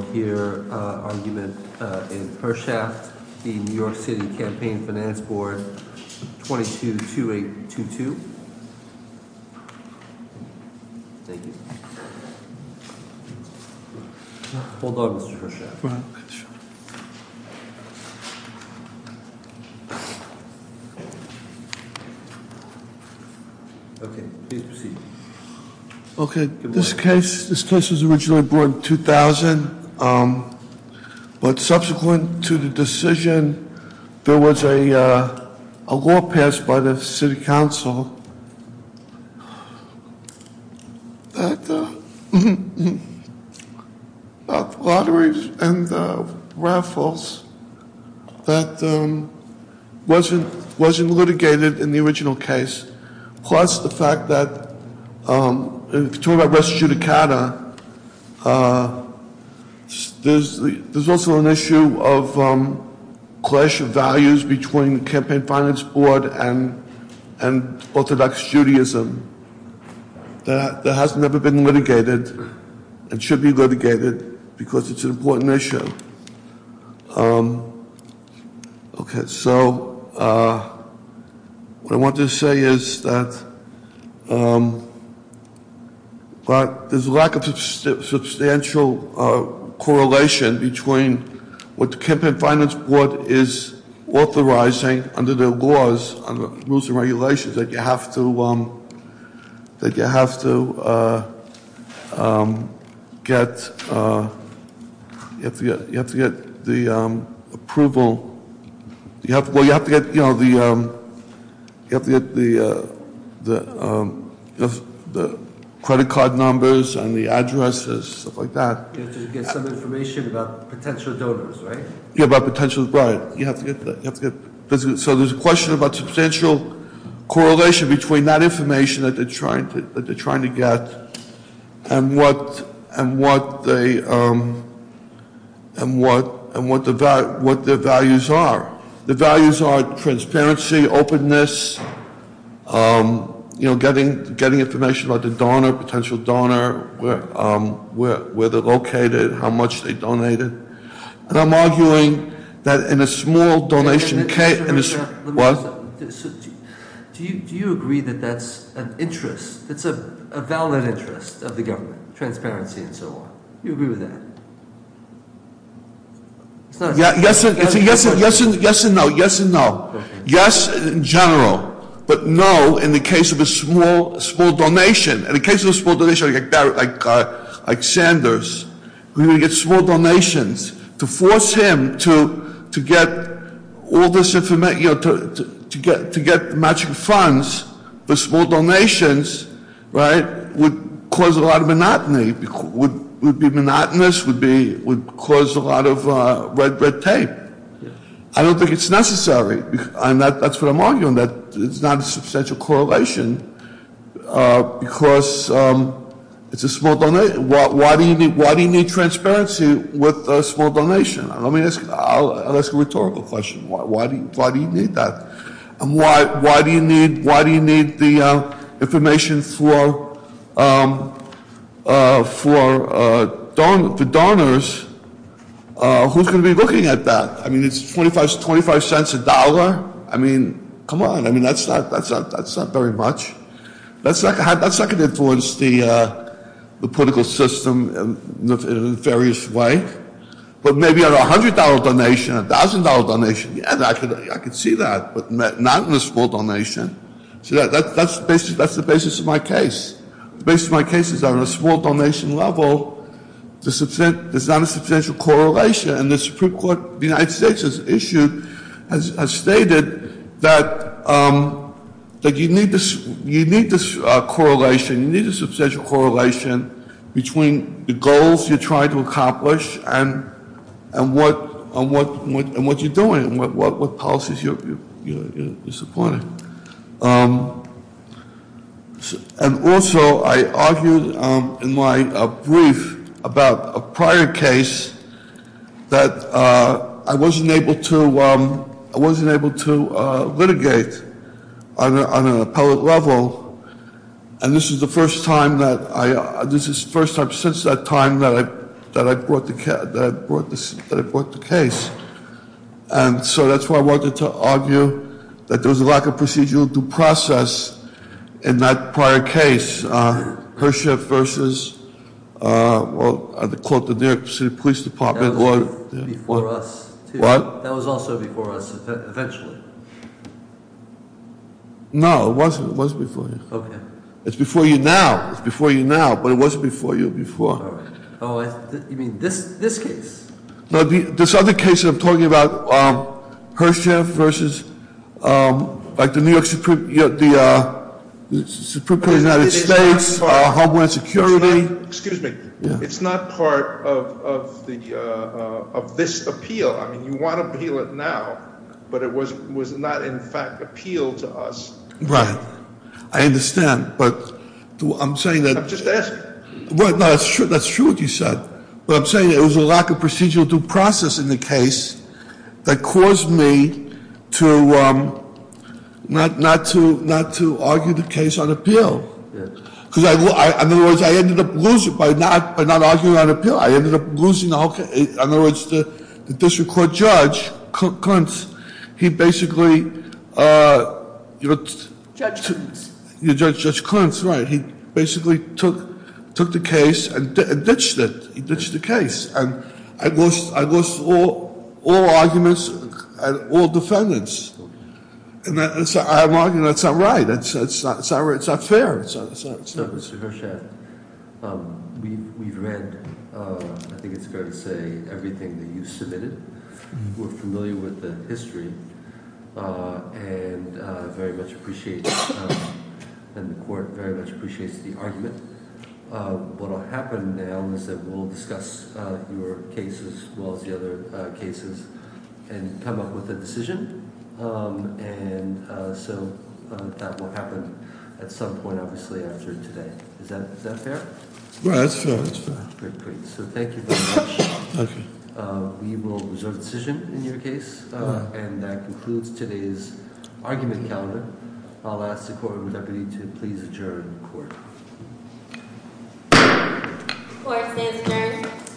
222822. Thank you. Hold on, Mr. Hirschaft. Go ahead. Okay, please proceed. Okay, this case, this case was originally brought in 2000, but subsequent to the decision, there was a law passed by the City Council about the lotteries and the raffles that wasn't litigated in the there's also an issue of clash of values between the Campaign Finance Board and Orthodox Judaism that has never been litigated and should be litigated because it's an important issue. Okay, so what I want to say is that there's a lack of substantial correlation between what the Campaign Finance Board is authorizing under the laws and rules and regulations that you have to get you have to get the approval, you have to get the credit card numbers and the addresses, stuff like that. You have to get some information about potential donors, right? So there's a question about substantial correlation between that information that they're trying to get and what their values are. The values are transparency, openness, you know, getting information about the donor, potential donor, where they're located, how much they donated. And I'm arguing that in a small donation case... Do you agree that that's an interest, that's a valid interest of the government, transparency and so on? Do you agree with that? Yes and no, yes and no. Yes in general, but no in the case of a small donation. In the case of a small donation like Sanders, when you get small donations, to force him to get all this information, to get matching funds for small donations, right, would cause a lot of monotony. It would be monotonous, it would cause a lot of red tape. I don't think it's necessary. That's what I'm arguing, that it's not a substantial correlation because it's a small donation. Why do you need transparency with a small donation? I'll ask a rhetorical question. Why do you need that? And why do you need the information for donors? Who's going to be looking at that? I mean, it's 25 cents a dollar? I mean, come on, that's not very much. That's not going to influence the political system in a nefarious way. But maybe on a $100 donation, a $1,000 donation, yeah, I could see that, but not in a small donation. That's the basis of my case. The basis of my case is that on a small donation level, there's not a substantial correlation. And the Supreme Court of the United States has stated that you need this correlation, you need a substantial correlation between the goals you're trying to accomplish and what you're doing and what policies you're supporting. And also, I argued in my brief about a prior case that I wasn't able to litigate on an appellate level. And this is the first time since that time that I brought the case. And so that's why I wanted to argue that there was a lack of procedural due process in that prior case, Hershiff versus, well, the New York City Police Department. That was before us, too. What? That was also before us eventually. No, it wasn't. It was before you. Okay. It's before you now. It's before you now, but it was before you before. Oh, you mean this case? No, this other case that I'm talking about, Hershiff versus like the New York, the Supreme Court of the United States, Homeland Security. Excuse me. It's not part of this appeal. I mean, you want to appeal it now, but it was not in fact appealed to us. Right. I understand, but I'm saying that- I'm just asking. That's true what you said, but I'm saying it was a lack of procedural due process in the case that caused me not to argue the case on appeal. In other words, I ended up losing. By not arguing on appeal, I ended up losing the whole case. In other words, the district court judge, Clintz, he basically- Judge Clintz. Judge Clintz, right. He basically took the case and ditched it. He ditched the case. I lost all arguments and all defendants. I'm arguing that's not right. It's not fair. Mr. Hershiff, we've read, I think it's fair to say, everything that you submitted. We're familiar with the history and very much appreciate, and the court very much appreciates the argument. What will happen now is that we'll discuss your case as well as the other cases and come up with a decision. And so that will happen at some point, obviously, after today. Is that fair? Yeah, that's fair. Great, great. So thank you very much. Thank you. We will reserve the decision in your case, and that concludes today's argument calendar. I'll ask the court and the deputy to please adjourn the court. Court is adjourned.